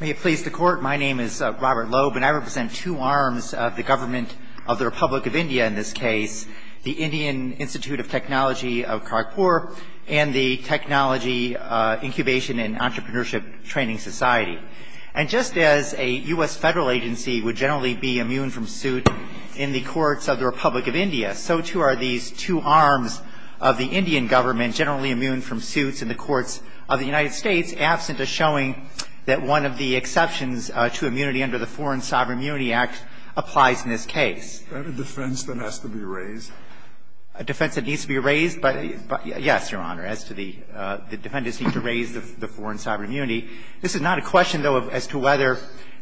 May it please the court, my name is Robert Loeb and I represent two arms of the government of the Republic of India in this case, the Indian Institute of Technology of Kharagpur and the Technology Incubation and Entrepreneurship Training Society. And just as a US federal agency would generally be immune from suit in the courts of the Republic of India, so too are these two arms of the Indian government generally immune from suits in the courts of the United States absent of showing that one of the exceptions to immunity under the Foreign Sovereign Immunity Act applies in this case. Is that a defense that has to be raised? A defense that needs to be raised? Yes, Your Honor, as to the defendants need to raise the foreign sovereign immunity. This is not a question, though, as to whether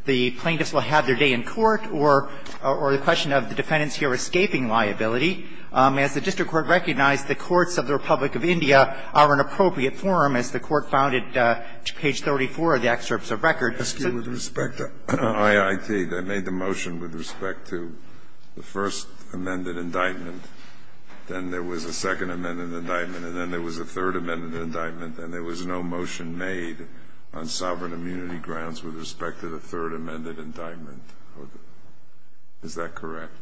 the plaintiffs will have their day in court or the question of the defendants here escaping liability. As the district court recognized, the courts of the Republic of India are an appropriate forum, as the court found at page 34 of the excerpts of record. With respect to IIT, they made the motion with respect to the first amended indictment, then there was a second amended indictment, and then there was a third amended indictment, and there was no motion made on sovereign immunity grounds with respect to the third amended indictment. Is that correct?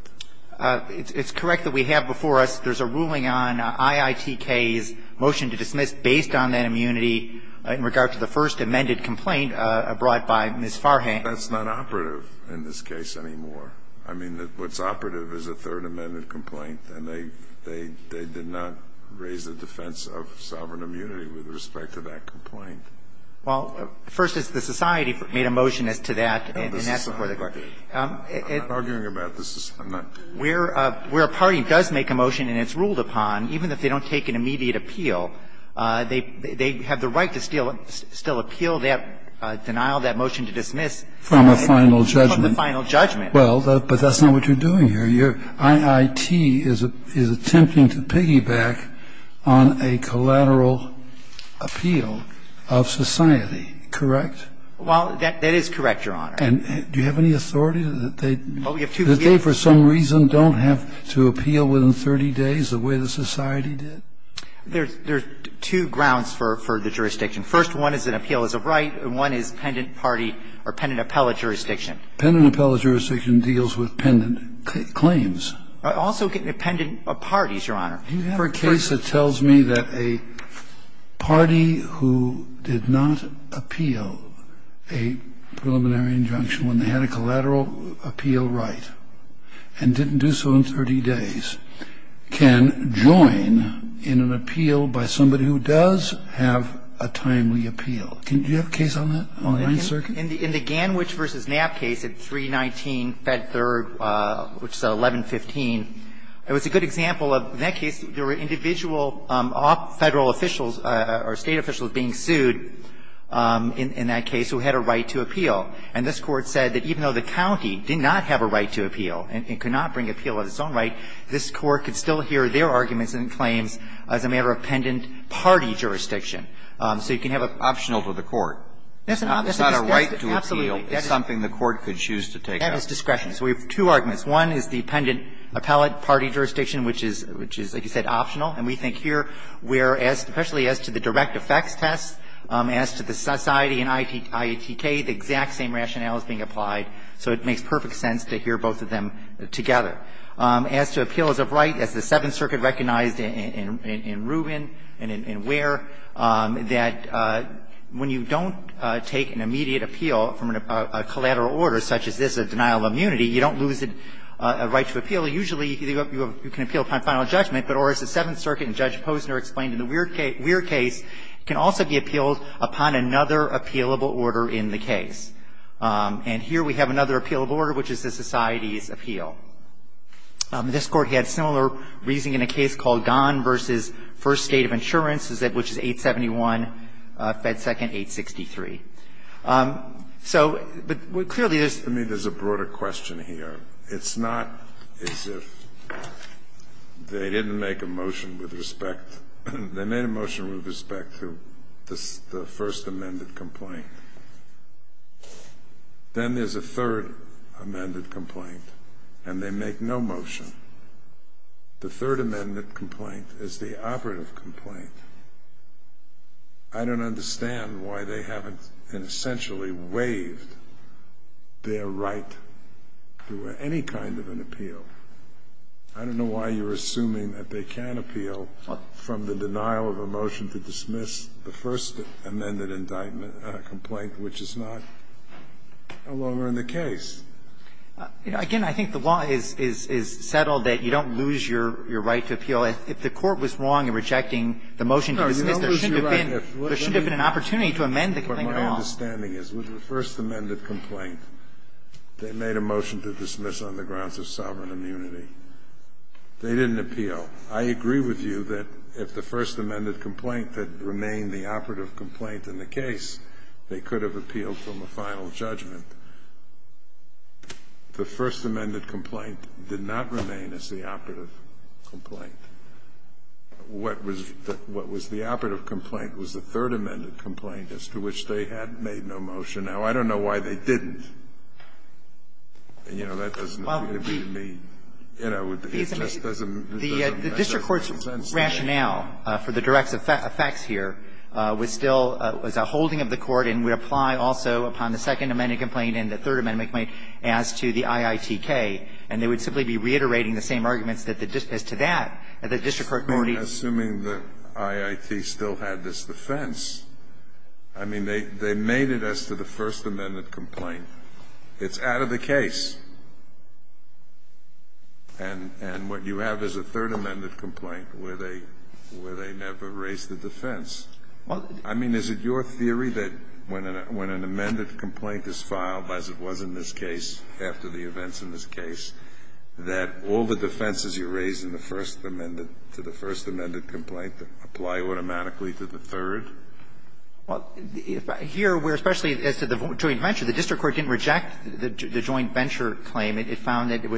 It's correct that we have before us, there's a ruling on IITK's motion to dismiss based on that immunity in regard to the first amended complaint brought by Ms. Farhan. That's not operative in this case anymore. I mean, what's operative is a third amended complaint, and they did not raise the defense of sovereign immunity with respect to that complaint. Well, first, it's the society made a motion as to that, and that's before the court. I'm not arguing about this. I'm not. Where a party does make a motion and it's ruled upon, even if they don't take an immediate appeal, they have the right to still appeal that denial, that motion to dismiss. From a final judgment. From the final judgment. Well, but that's not what you're doing here. Your IIT is attempting to piggyback on a collateral appeal of society. Correct? Well, that is correct, Your Honor. And do you have any authority that they don't have to appeal within 30 days the way the society did? There's two grounds for the jurisdiction. First one is an appeal as a right, and one is pendent party or pendent appellate jurisdiction. Pendent appellate jurisdiction deals with pendent claims. Also pendent parties, Your Honor. Do you have a case that tells me that a party who did not appeal a preliminary injunction when they had a collateral appeal right and didn't do so in 30 days can join in an appeal by somebody who does have a timely appeal? Do you have a case on that, on the Ninth Circuit? In the Ganwich v. Knapp case at 319 Fed Third, which is at 1115, it was a good example of, in that case, there were individual Federal officials or State officials being sued in that case who had a right to appeal. And this Court said that even though the county did not have a right to appeal and could not bring appeal of its own right, this Court could still hear their arguments and claims as a matter of pendent party jurisdiction. So you can have a ---- Optional to the court. It's not a right to appeal. It's something the Court could choose to take up. That is discretion. So we have two arguments. One is the pendent appellate party jurisdiction, which is, like you said, optional. And we think here where, especially as to the direct effects test, as to the society and IATK, the exact same rationale is being applied. So it makes perfect sense to hear both of them together. As to appeals of right, as the Seventh Circuit recognized in Rubin and in Ware, that when you don't take an immediate appeal from a collateral order such as this, which is a denial of immunity, you don't lose a right to appeal. Usually, you can appeal upon final judgment. But as the Seventh Circuit and Judge Posner explained in the Weir case, it can also be appealed upon another appealable order in the case. And here we have another appealable order, which is the society's appeal. This Court had similar reasoning in a case called Gahn v. First State of Insurance, which is 871 Fed 2nd 863. So, but clearly there's to me there's a broader question here. It's not as if they didn't make a motion with respect. They made a motion with respect to the first amended complaint. Then there's a third amended complaint, and they make no motion. The third amended complaint is the operative complaint. I don't understand why they haven't essentially waived their right to any kind of an appeal. I don't know why you're assuming that they can appeal from the denial of a motion to dismiss the first amended indictment complaint, which is not no longer in the case. Again, I think the law is settled that you don't lose your right to appeal. If the Court was wrong in rejecting the motion to dismiss, there shouldn't have been an opportunity to amend the complaint at all. My understanding is with the first amended complaint, they made a motion to dismiss on the grounds of sovereign immunity. They didn't appeal. I agree with you that if the first amended complaint had remained the operative complaint in the case, they could have appealed from a final judgment. The first amended complaint did not remain as the operative complaint. What was the operative complaint was the third amended complaint, as to which they had made no motion. Now, I don't know why they didn't. And, you know, that doesn't appear to me, you know, it just doesn't make sense to me. The district court's rationale for the direct effects here was still as a holding of the court and would apply also upon the second amended complaint and the third amended complaint as to the IITK. And they would simply be reiterating the same arguments as to that, that the district court could only assume the IIT still had this defense. I mean, they made it as to the first amended complaint. It's out of the case. And what you have is a third amended complaint where they never raised the defense. I mean, is it your theory that when an amended complaint is filed, as it was in this case, that all the defenses you raise in the first amended to the first amended complaint apply automatically to the third? Well, here, where especially as to the joint venture, the district court didn't reject the joint venture claim. It found that it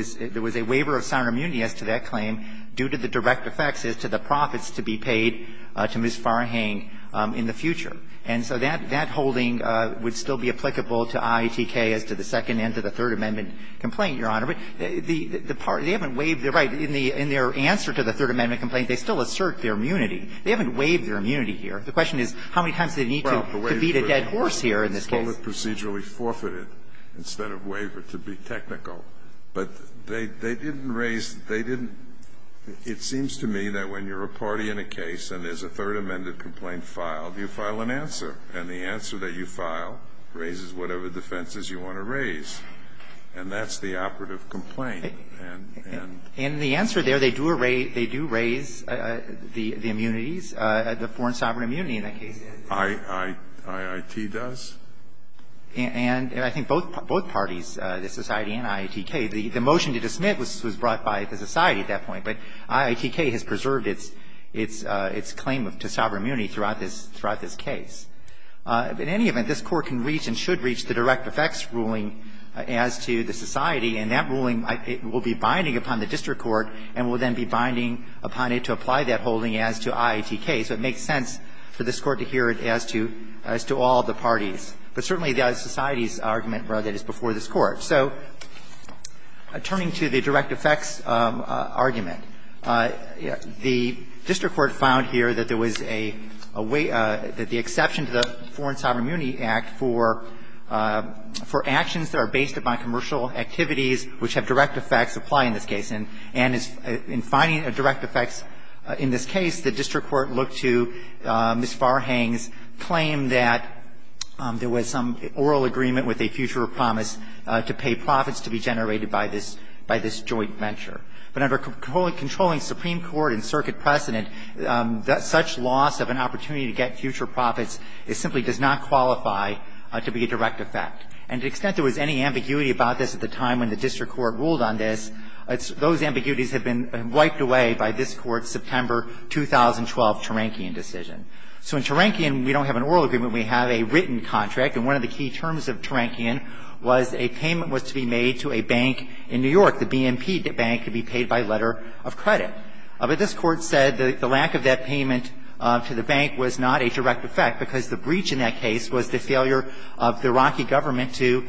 was a waiver of sound immunity as to that claim due to the direct effects as to the profits to be paid to Ms. Farhang in the future. And so that holding would still be applicable to IITK as to the second and to the third amended complaint, Your Honor. But the party, they haven't waived the right in their answer to the third amended complaint, they still assert their immunity. They haven't waived their immunity here. The question is how many times do they need to beat a dead horse here in this case? Well, the waiver was called it procedurally forfeited instead of waivered to be technical. But they didn't raise, they didn't. It seems to me that when you're a party in a case and there's a third amended complaint filed, you file an answer. And the answer that you file raises whatever defenses you want to raise. And that's the operative complaint. And the answer there, they do raise the immunities, the foreign sovereign immunity in that case. IIT does? And I think both parties, the society and IITK, the motion to dismiss was brought by the society at that point. But IITK has preserved its claim to sovereign immunity throughout this case. In any event, this Court can reach and should reach the direct effects ruling as to the society. And that ruling will be binding upon the district court and will then be binding upon it to apply that holding as to IITK. So it makes sense for this Court to hear it as to all the parties. But certainly the society's argument, rather, is before this Court. So turning to the direct effects argument, the district court found here that there was some oral agreement with a future promise to pay profits to be generated by this joint venture. But under a controlling supreme court and circuit precedent, such loss of an opportunity It's not a direct effect. It's not a direct effect. It simply does not qualify to be a direct effect. And to the extent there was any ambiguity about this at the time when the district court ruled on this, those ambiguities have been wiped away by this Court's September 2012 Tarankian decision. So in Tarankian, we don't have an oral agreement. We have a written contract. And one of the key terms of Tarankian was a payment was to be made to a bank in New York, the BNP bank, to be paid by letter of credit. But this Court said the lack of that payment to the bank was not a direct effect because the breach in that case was the failure of the Iraqi government to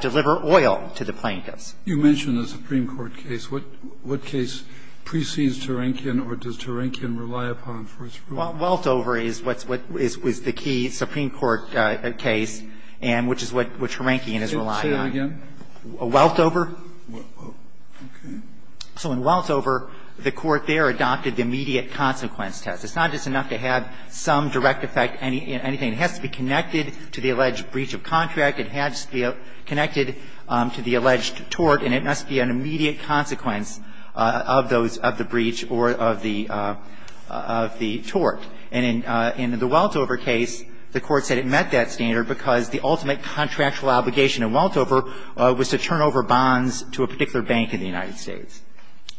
deliver oil to the plaintiffs. Kennedy, you mentioned the supreme court case. What case precedes Tarankian or does Tarankian rely upon for its rule? Weltover is what's what is the key supreme court case, and which is what Tarankian is relying on. Say it again. Weltover. Weltover. Okay. So in Weltover, the Court there adopted the immediate consequence test. It's not just enough to have some direct effect, anything. It has to be connected to the alleged breach of contract. It has to be connected to the alleged tort, and it must be an immediate consequence of those of the breach or of the tort. And in the Weltover case, the Court said it met that standard because the ultimate contractual obligation in Weltover was to turn over bonds to a particular bank in the United States.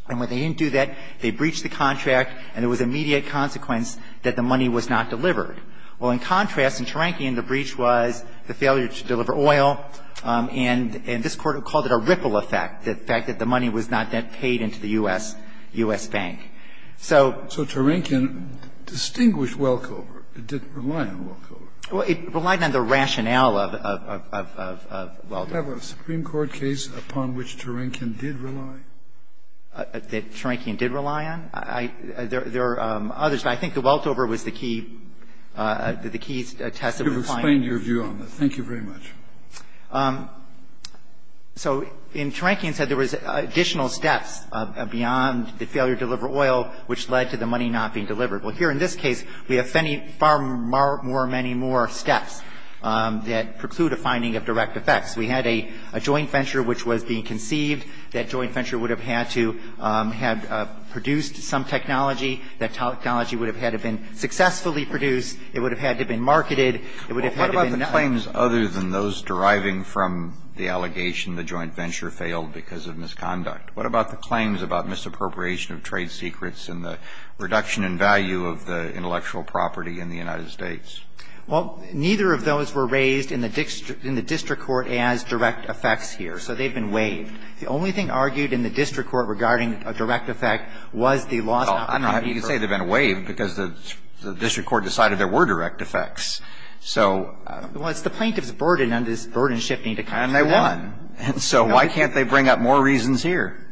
And when they didn't do that, they breached the contract, and it was an immediate consequence that the money was not delivered. Well, in contrast, in Tarankian, the breach was the failure to deliver oil, and this Court called it a ripple effect, the fact that the money was not paid into the U.S. bank. So to Tarankian distinguished Weltover. It didn't rely on Weltover. Well, it relied on the rationale of Weltover. Scalia, did you have a Supreme Court case upon which Tarankian did rely? That Tarankian did rely on? There are others, but I think the Weltover was the key, the key test of the claim. You've explained your view on this. Thank you very much. So in Tarankian, it said there was additional steps beyond the failure to deliver oil, which led to the money not being delivered. Well, here in this case, we have many, far more, many more steps that preclude a finding of direct effects. We had a joint venture which was being conceived. That joint venture would have had to have produced some technology. That technology would have had to have been successfully produced. It would have had to have been marketed. It would have had to have been known. Well, what about the claims other than those deriving from the allegation the joint venture failed because of misconduct? What about the claims about misappropriation of trade secrets and the reduction in value of the intellectual property in the United States? Well, neither of those were raised in the district court as direct effects here. So they've been waived. The only thing argued in the district court regarding a direct effect was the loss of property. Well, I don't know how you can say they've been waived, because the district court decided there were direct effects. So the plaintiff's burden is burden-shifting. And they won. And so why can't they bring up more reasons here?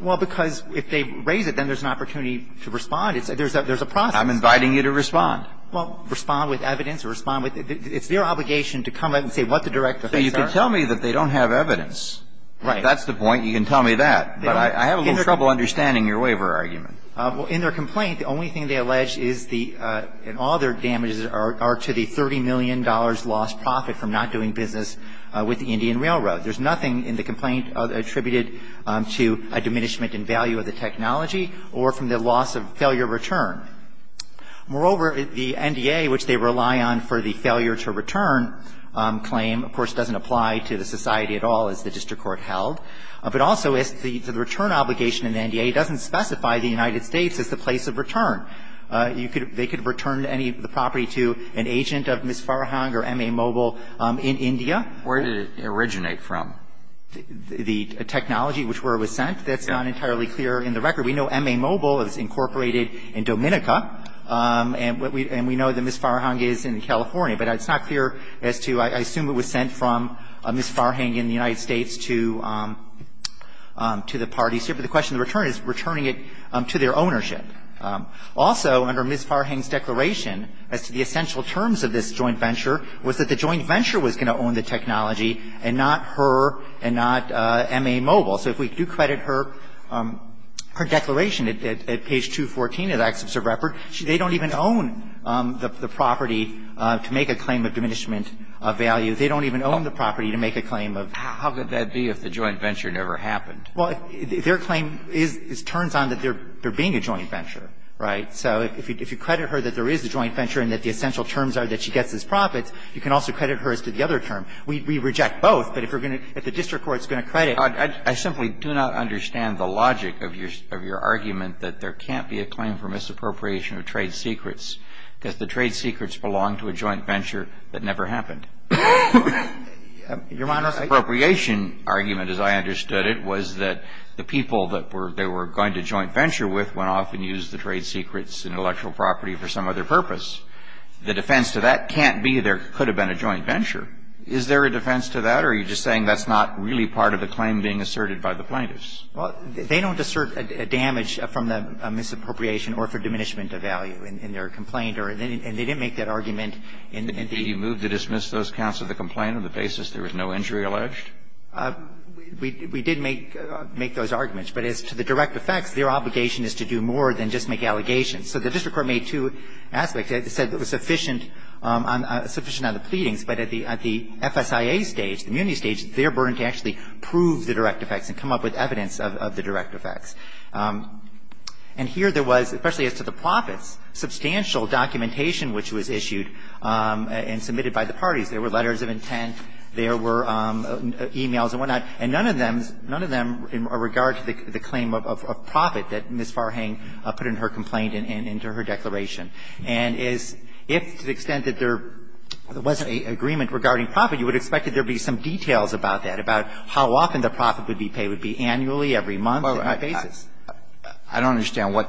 Well, because if they raise it, then there's an opportunity to respond. There's a process. I'm inviting you to respond. Well, respond with evidence or respond with the – it's their obligation to come out and say what the direct effects are. So you can tell me that they don't have evidence. Right. If that's the point, you can tell me that. But I have a little trouble understanding your waiver argument. Well, in their complaint, the only thing they allege is the – and all their damages are to the $30 million lost profit from not doing business with the Indian Railroad. There's nothing in the complaint attributed to a diminishment in value of the technology or from the loss of failure return. Moreover, the NDA, which they rely on for the failure-to-return claim, of course, doesn't apply to the society at all, as the district court held. But also, as to the return obligation in the NDA, it doesn't specify the United States as the place of return. You could – they could return any of the property to an agent of Ms. Farhang or M.A. Mobile in India. Where did it originate from? The technology which where it was sent. That's not entirely clear in the record. We know M.A. Mobile is incorporated in Dominica, and we know that Ms. Farhang is in California. But it's not clear as to – I assume it was sent from Ms. Farhang in the United States to the parties here. But the question of the return is returning it to their ownership. Also, under Ms. Farhang's declaration, as to the essential terms of this joint venture, was that the joint venture was going to own the technology and not her and not M.A. Mobile. So if we do credit her, her declaration at page 214 of the access of record, they don't even own the property to make a claim of diminishment of value. They don't even own the property to make a claim of – How could that be if the joint venture never happened? Well, their claim is – turns on that there being a joint venture, right? So if you credit her that there is a joint venture and that the essential terms are that she gets his profits, you can also credit her as to the other term. We reject both, but if you're going to – if the district court is going to credit I simply do not understand the logic of your argument that there can't be a claim for misappropriation of trade secrets because the trade secrets belong to a joint venture that never happened. Your Honor, I – The misappropriation argument, as I understood it, was that the people that they were going to joint venture with went off and used the trade secrets and intellectual property for some other purpose. The defense to that can't be there could have been a joint venture. Is there a defense to that, or are you just saying that's not really part of the claim being asserted by the plaintiffs? Well, they don't assert a damage from the misappropriation or for diminishment of value in their complaint, and they didn't make that argument in the – Did he move to dismiss those counts of the complaint on the basis there was no injury alleged? We did make those arguments, but as to the direct effects, their obligation is to do more than just make allegations. So the district court made two aspects. It said it was sufficient on the pleadings, but at the FSIA stage, the immunity burden to actually prove the direct effects and come up with evidence of the direct effects. And here there was, especially as to the profits, substantial documentation which was issued and submitted by the parties. There were letters of intent. There were e-mails and whatnot. And none of them – none of them are in regard to the claim of profit that Ms. Farhang put in her complaint and into her declaration. And as if to the extent that there wasn't an agreement regarding profit, you would expect that there would be some details about that, about how often the profit would be paid. It would be annually, every month, on a basis. I don't understand what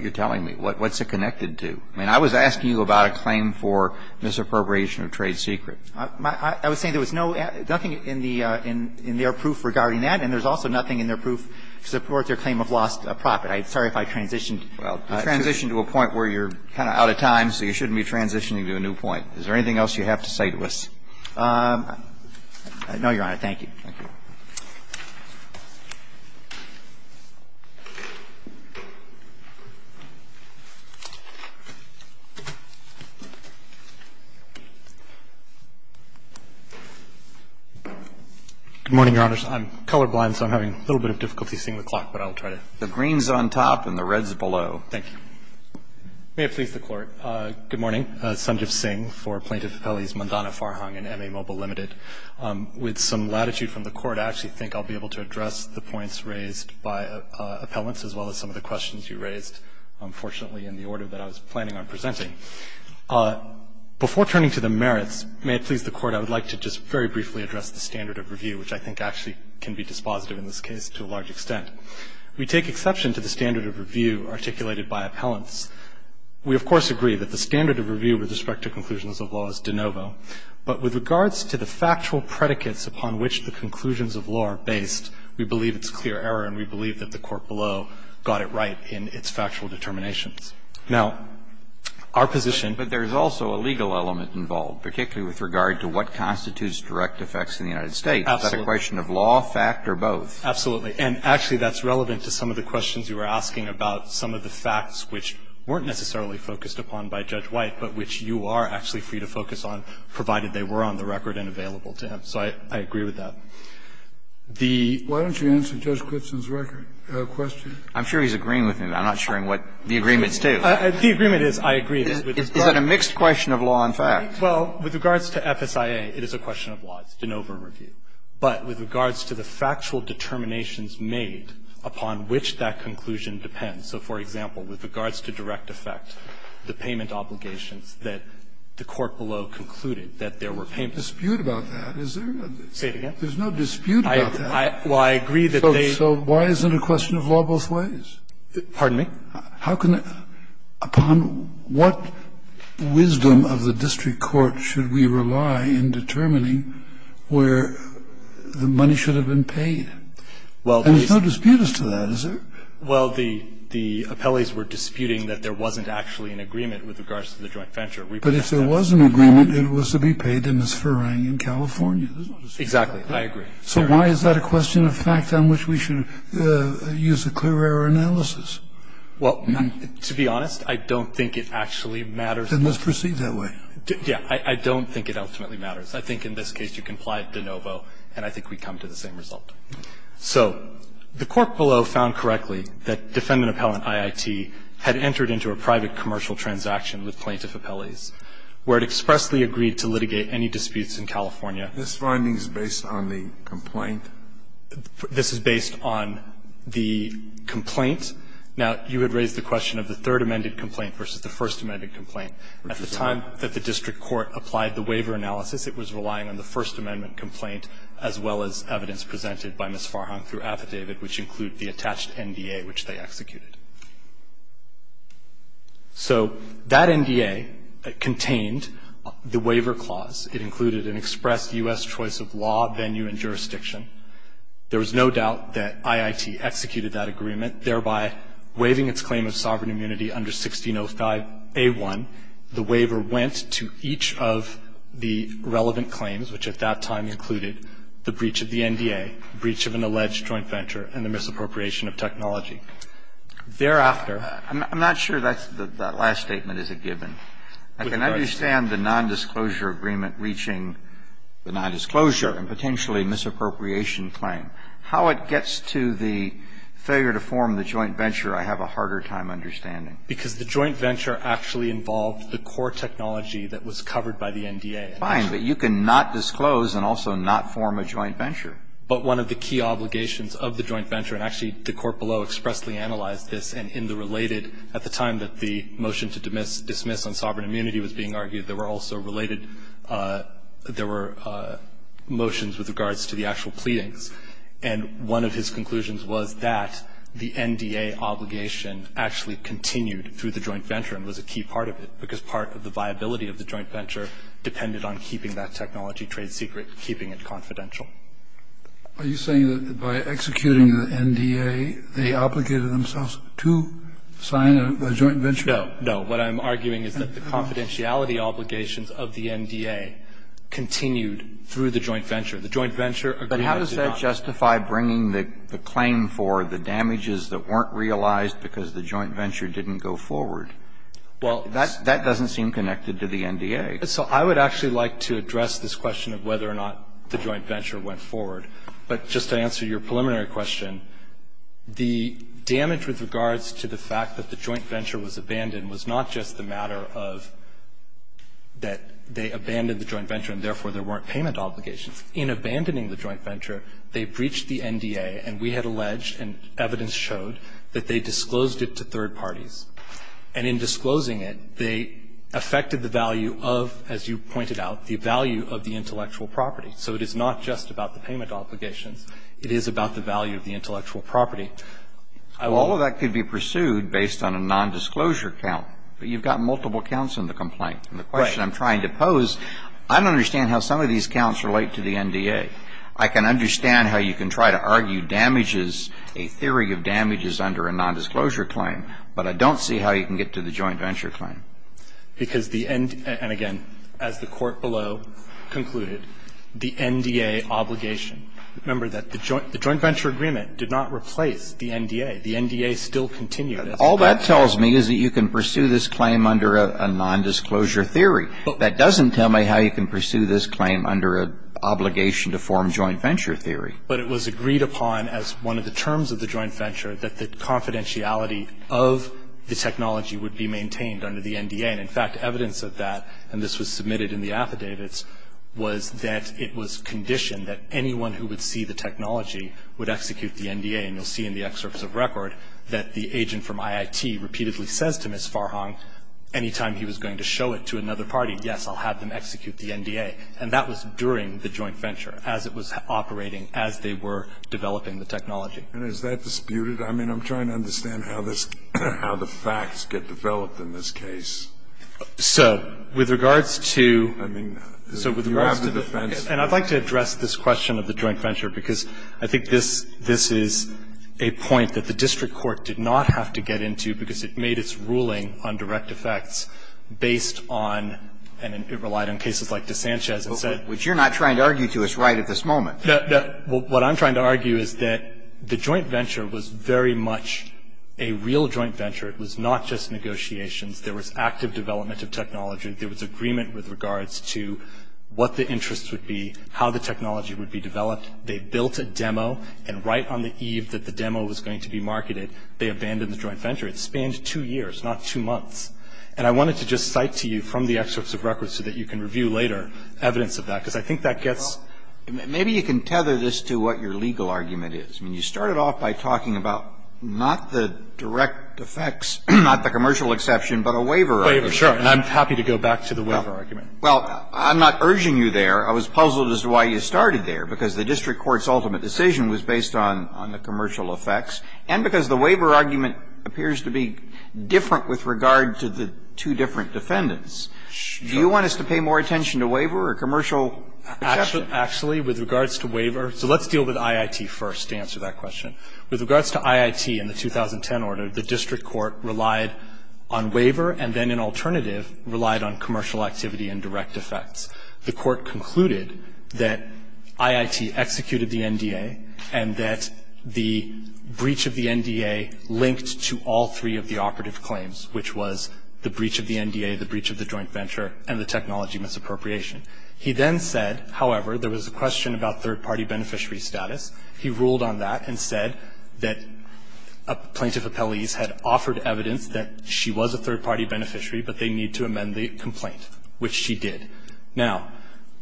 you're telling me. What's it connected to? I mean, I was asking you about a claim for misappropriation of trade secret. I was saying there was no – nothing in the – in their proof regarding that, and there's also nothing in their proof to support their claim of lost profit. I'm sorry if I transitioned. Well, you transitioned to a point where you're kind of out of time, so you shouldn't be transitioning to a new point. Is there anything else you have to say to us? No, Your Honor. Thank you. Thank you. Good morning, Your Honors. I'm colorblind, so I'm having a little bit of difficulty seeing the clock, but I'll try to. The green's on top and the red's below. Thank you. May it please the Court. Good morning. Sanjiv Singh for Plaintiff Appellees Mondana-Farhang and MA Mobile Limited. With some latitude from the Court, I actually think I'll be able to address the points raised by appellants as well as some of the questions you raised, unfortunately, in the order that I was planning on presenting. Before turning to the merits, may it please the Court, I would like to just very briefly address the standard of review, which I think actually can be dispositive in this case to a large extent. We take exception to the standard of review articulated by appellants. We of course agree that the standard of review with respect to conclusions of law is de novo, but with regards to the factual predicates upon which the conclusions of law are based, we believe it's clear error and we believe that the Court below got it right in its factual determinations. Now, our position- But there's also a legal element involved, particularly with regard to what constitutes direct effects in the United States. Absolutely. Is that a question of law, fact, or both? Absolutely. And actually, that's relevant to some of the questions you were asking about some of the facts which weren't necessarily focused upon by Judge White, but which you are actually free to focus on, provided they were on the record and available to him. So I agree with that. The- Why don't you answer Judge Glipson's record question? I'm sure he's agreeing with me. I'm not sure what the agreements do. The agreement is I agree with his point. Is that a mixed question of law and fact? Well, with regards to FSIA, it is a question of law. It's de novo review. But with regards to the factual determinations made upon which that conclusion depends, so, for example, with regards to direct effect, the payment obligations that the court below concluded that there were payment- There's no dispute about that, is there? Say it again. There's no dispute about that. Well, I agree that they- So why is it a question of law both ways? Pardon me? How can the -? Upon what wisdom of the district court should we rely in determining where the money should have been paid? And there's no dispute as to that, is there? Well, the appellees were disputing that there wasn't actually an agreement with regards to the joint venture. But if there was an agreement, it was to be paid to Ms. Farang in California. Exactly. I agree. So why is that a question of fact on which we should use a clear error analysis? Well, to be honest, I don't think it actually matters- Then let's proceed that way. Yes. I don't think it ultimately matters. I think in this case you can apply it de novo, and I think we come to the same result. So the court below found correctly that defendant-appellant IIT had entered into a private commercial transaction with plaintiff appellees, where it expressly agreed to litigate any disputes in California. This finding is based on the complaint? This is based on the complaint. Now, you had raised the question of the Third Amendment complaint versus the First Amendment complaint. At the time that the district court applied the waiver analysis, it was relying on the First Amendment complaint as well as evidence presented by Ms. Farang through affidavit, which include the attached NDA, which they executed. So that NDA contained the waiver clause. It included an express U.S. choice of law, venue, and jurisdiction. There was no doubt that IIT executed that agreement, thereby waiving its claim of sovereign immunity under 1605a1. The waiver went to each of the relevant claims, which at that time included the breach of the NDA, breach of an alleged joint venture, and the misappropriation of technology. Thereafter ---- I'm not sure that last statement is a given. I can understand the nondisclosure agreement reaching the nondisclosure and potentially misappropriation claim. How it gets to the failure to form the joint venture, I have a harder time understanding. Because the joint venture actually involved the core technology that was covered by the NDA. Fine. But you cannot disclose and also not form a joint venture. But one of the key obligations of the joint venture, and actually the court below expressly analyzed this, and in the related, at the time that the motion to dismiss on sovereign immunity was being argued, there were also related, there were motions with regards to the actual pleadings. And one of his conclusions was that the NDA obligation actually continued through the joint venture and was a key part of it, because part of the viability of the joint venture depended on keeping that technology trade secret, keeping it confidential. Are you saying that by executing the NDA, they obligated themselves to sign a joint venture? No. No. What I'm arguing is that the confidentiality obligations of the NDA continued through the joint venture. The joint venture agreed to not. But that doesn't justify bringing the claim for the damages that weren't realized because the joint venture didn't go forward. Well, that doesn't seem connected to the NDA. So I would actually like to address this question of whether or not the joint venture went forward. But just to answer your preliminary question, the damage with regards to the fact that the joint venture was abandoned was not just the matter of that they abandoned the joint venture and therefore there weren't payment obligations. In abandoning the joint venture, they breached the NDA and we had alleged and evidence showed that they disclosed it to third parties. And in disclosing it, they affected the value of, as you pointed out, the value of the intellectual property. So it is not just about the payment obligations. It is about the value of the intellectual property. I will ---- Well, all of that could be pursued based on a nondisclosure count. But you've got multiple counts in the complaint. Right. And the question I'm trying to pose, I don't understand how some of these counts relate to the NDA. I can understand how you can try to argue damages, a theory of damages under a nondisclosure claim. But I don't see how you can get to the joint venture claim. Because the NDA, and again, as the Court below concluded, the NDA obligation. Remember that the joint venture agreement did not replace the NDA. The NDA still continues. All that tells me is that you can pursue this claim under a nondisclosure theory. That doesn't tell me how you can pursue this claim under an obligation to form joint venture theory. But it was agreed upon as one of the terms of the joint venture that the confidentiality of the technology would be maintained under the NDA. And in fact, evidence of that, and this was submitted in the affidavits, was that it was conditioned that anyone who would see the technology would execute the NDA. And you'll see in the excerpts of record that the agent from IIT repeatedly says to Ms. Farhang, any time he was going to show it to another party, yes, I'll have them execute the NDA. And that was during the joint venture, as it was operating, as they were developing the technology. And is that disputed? I mean, I'm trying to understand how this, how the facts get developed in this case. So with regards to, so with regards to the, and I'd like to address this question of the joint venture, because I think this, this is a point that the district court did not have to get into, because it made its ruling on direct effects based on, and it relied on cases like DeSanchez and said. But you're not trying to argue to us right at this moment. No, no. What I'm trying to argue is that the joint venture was very much a real joint venture. It was not just negotiations. There was active development of technology. There was agreement with regards to what the interests would be, how the technology would be developed. They built a demo, and right on the eve that the demo was going to be marketed, they abandoned the joint venture. It spanned two years, not two months. And I wanted to just cite to you from the excerpts of records so that you can review later evidence of that, because I think that gets. Well, maybe you can tether this to what your legal argument is. I mean, you started off by talking about not the direct effects, not the commercial exception, but a waiver argument. Sure, and I'm happy to go back to the waiver argument. Well, I'm not urging you there. I was puzzled as to why you started there, because the district court's ultimate decision was based on the commercial effects, and because the waiver argument appears to be different with regard to the two different defendants. Do you want us to pay more attention to waiver or commercial exception? Actually, with regards to waiver, so let's deal with IIT first to answer that question. With regards to IIT in the 2010 order, the district court relied on waiver and then an alternative relied on commercial activity and direct effects. The court concluded that IIT executed the NDA and that the breach of the NDA linked to all three of the operative claims, which was the breach of the NDA, the breach of the joint venture, and the technology misappropriation. He then said, however, there was a question about third-party beneficiary status. He ruled on that and said that plaintiff appellees had offered evidence that she was a third-party beneficiary, but they need to amend the complaint, which she did. Now,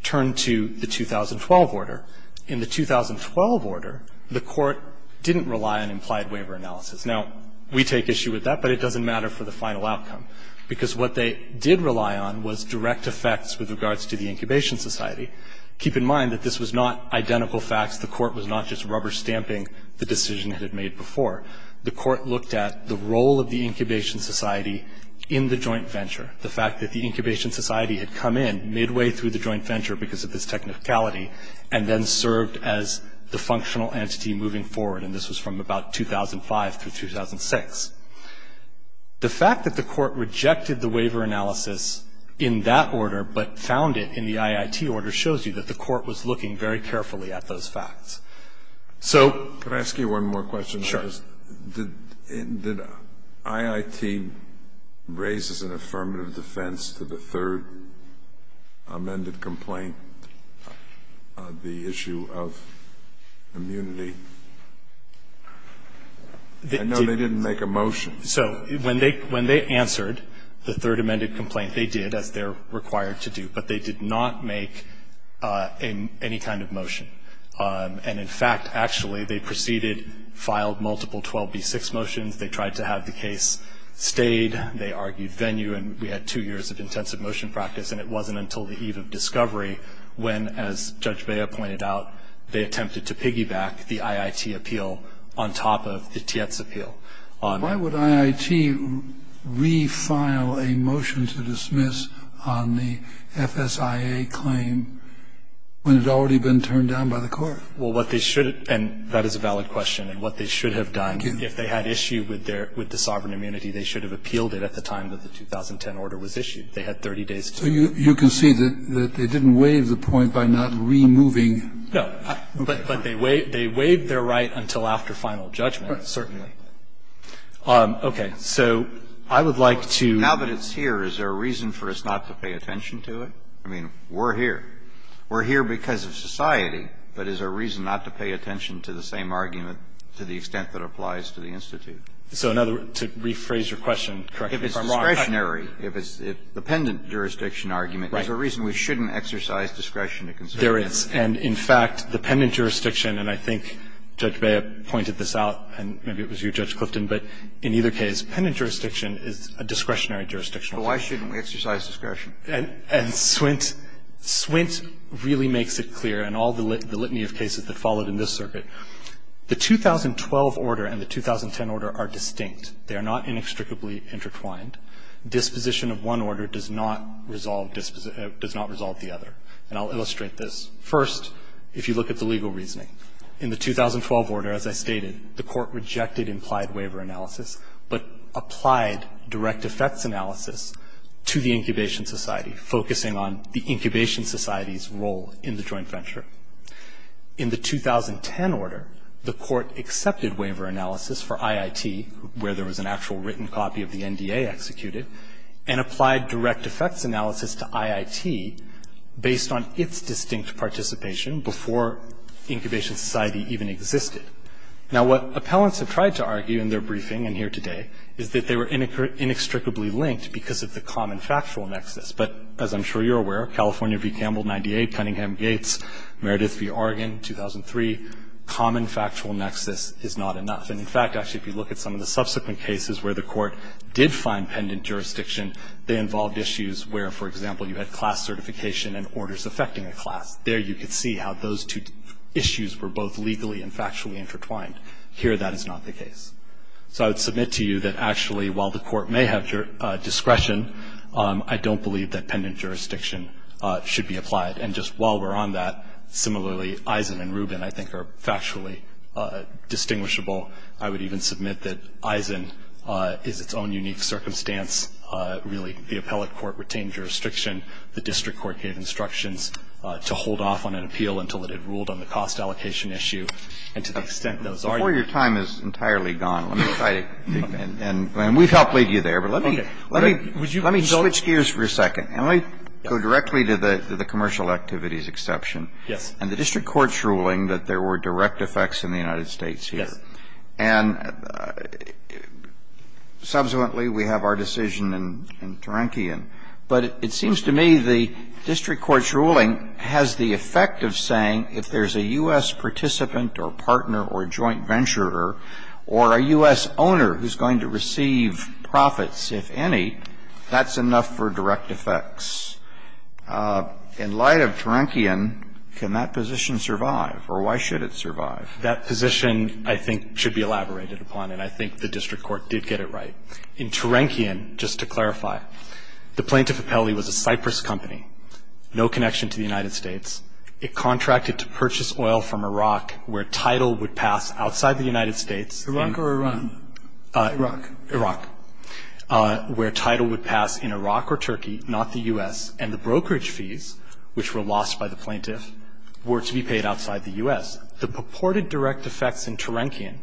turn to the 2012 order. In the 2012 order, the court didn't rely on implied waiver analysis. Now, we take issue with that, but it doesn't matter for the final outcome, because what they did rely on was direct effects with regards to the Incubation Society. Keep in mind that this was not identical facts. The court was not just rubber stamping the decision it had made before. The court looked at the role of the Incubation Society in the joint venture. The fact that the Incubation Society had come in midway through the joint venture because of this technicality, and then served as the functional entity moving forward, and this was from about 2005 through 2006. The fact that the court rejected the waiver analysis in that order, but found it in the IIT order, shows you that the court was looking very carefully at those facts. So. Could I ask you one more question? Sure. Did IIT raise as an affirmative defense to the third amended complaint the issue of immunity? I know they didn't make a motion. So when they answered the third amended complaint, they did, as they're required to do, but they did not make any kind of motion. And in fact, actually, they proceeded, filed multiple 12B6 motions. They tried to have the case stayed. They argued venue, and we had two years of intensive motion practice, and it wasn't until the eve of discovery when, as Judge Bea pointed out, they attempted to piggy back the IIT appeal on top of the Tietz appeal. Why would IIT refile a motion to dismiss on the FSIA claim when it had already been turned down by the court? Well, what they should have done, and that is a valid question, and what they should have done, if they had issue with the sovereign immunity, they should have appealed it at the time that the 2010 order was issued. They had 30 days to do that. So you can see that they didn't waive the point by not removing. No. But they waived their right until after final judgment. Right. Certainly. Okay. So I would like to. Now that it's here, is there a reason for us not to pay attention to it? I mean, we're here. We're here because of society. But is there a reason not to pay attention to the same argument to the extent that applies to the Institute? So in other words, to rephrase your question, correct me if I'm wrong. If it's discretionary, if it's the pendant jurisdiction argument, is there a reason we shouldn't exercise discretion to consider it? There is. And in fact, the pendant jurisdiction, and I think Judge Bea pointed this out, and maybe it was you, Judge Clifton, but in either case, pendant jurisdiction is a discretionary jurisdictional case. So why shouldn't we exercise discretion? And Swint really makes it clear, in all the litany of cases that followed in this circuit, the 2012 order and the 2010 order are distinct. They are not inextricably intertwined. Disposition of one order does not resolve the other. And I'll illustrate this. First, if you look at the legal reasoning, in the 2012 order, as I stated, the court rejected implied waiver analysis, but applied direct effects analysis to the incubation society, focusing on the incubation society's role in the joint venture. In the 2010 order, the court accepted waiver analysis for IIT, where there was an actual written copy of the NDA executed, and applied direct effects analysis to IIT based on its distinct participation before incubation society even existed. Now, what appellants have tried to argue in their briefing and here today is that they were inextricably linked because of the common factual nexus. But as I'm sure you're aware, California v. Campbell, 98, Cunningham-Gates, Meredith v. Oregon, 2003, common factual nexus is not enough. And in fact, actually, if you look at some of the subsequent cases where the court did find pendant jurisdiction, they involved issues where, for example, you had class certification and orders affecting a class. There you could see how those two issues were both legally and factually intertwined. Here that is not the case. So I would submit to you that, actually, while the court may have discretion, I don't believe that pendant jurisdiction should be applied. And just while we're on that, similarly, Eisen and Rubin, I think, are factually distinguishable. I would even submit that Eisen is its own unique circumstance. Really, the appellate court retained jurisdiction. The district court gave instructions to hold off on an appeal until it had ruled on the cost allocation issue. And to the extent that was argued. Before your time is entirely gone, let me try to think. And we'd help leave you there. But let me switch gears for a second. And let me go directly to the commercial activities exception. Yes. And the district court's ruling that there were direct effects in the United States here. Yes. And subsequently, we have our decision in Terankian. But it seems to me the district court's ruling has the effect of saying if there's a U.S. participant or partner or joint venturer or a U.S. owner who's going to receive profits, if any, that's enough for direct effects. In light of Terankian, can that position survive? Or why should it survive? That position, I think, should be elaborated upon. And I think the district court did get it right. In Terankian, just to clarify, the plaintiff appellee was a Cypress company, no connection to the United States. It contracted to purchase oil from Iraq where title would pass outside the United States. Iraq or Iran? Iraq. Iraq. Where title would pass in Iraq or Turkey, not the U.S., and the brokerage fees, which were lost by the plaintiff, were to be paid outside the U.S. The purported direct effects in Terankian,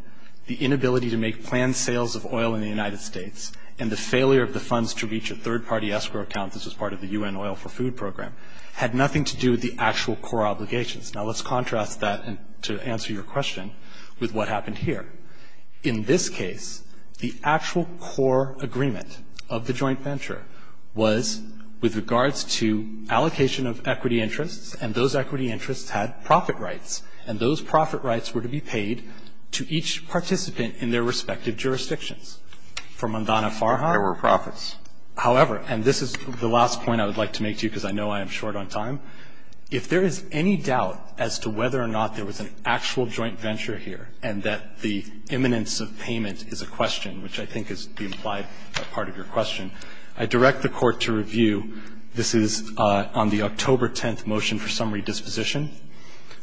the inability to make planned sales of oil in the United States, and the failure of the funds to reach a third-party escrow account this was part of the U.N. Oil for Food Program, had nothing to do with the actual core obligations. Now, let's contrast that, and to answer your question, with what happened here. In this case, the actual core agreement of the joint venture was with regards to allocation of equity interests, and those equity interests had profit rights. And those profit rights were to be paid to each participant in their respective jurisdictions. For Mondana-Farhan? There were profits. However, and this is the last point I would like to make to you because I know I am short on time, if there is any doubt as to whether or not there was an actual joint venture here, and that the imminence of payment is a question, which I think is the implied part of your question, I direct the Court to review. This is on the October 10th motion for summary disposition.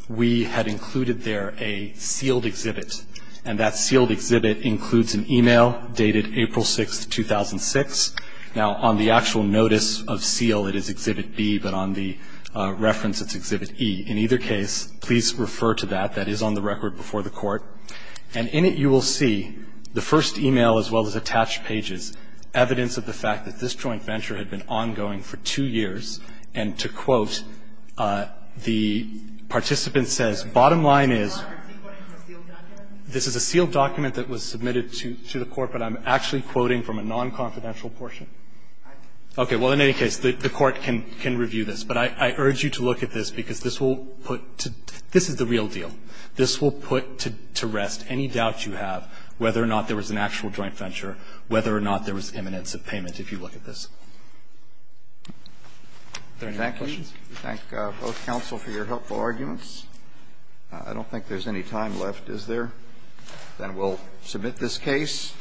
We had included there a sealed exhibit, and that sealed exhibit includes an e-mail dated April 6, 2006. Now, on the actual notice of seal, it is exhibit B, but on the reference, it's exhibit E. In either case, please refer to that. That is on the record before the Court. And in it, you will see the first e-mail, as well as attached pages, evidence of the fact that this joint venture had been ongoing for two years. And to quote, the participant says, bottom line is, this is a sealed document that was submitted to the Court. I'm actually quoting from a non-confidential portion. Okay. Well, in any case, the Court can review this. But I urge you to look at this because this will put to – this is the real deal. This will put to rest any doubt you have whether or not there was an actual joint venture, whether or not there was imminence of payment, if you look at this. Are there any other questions? Roberts. Thank you. We thank both counsel for your helpful arguments. I don't think there's any time left, is there? Then we'll submit this case.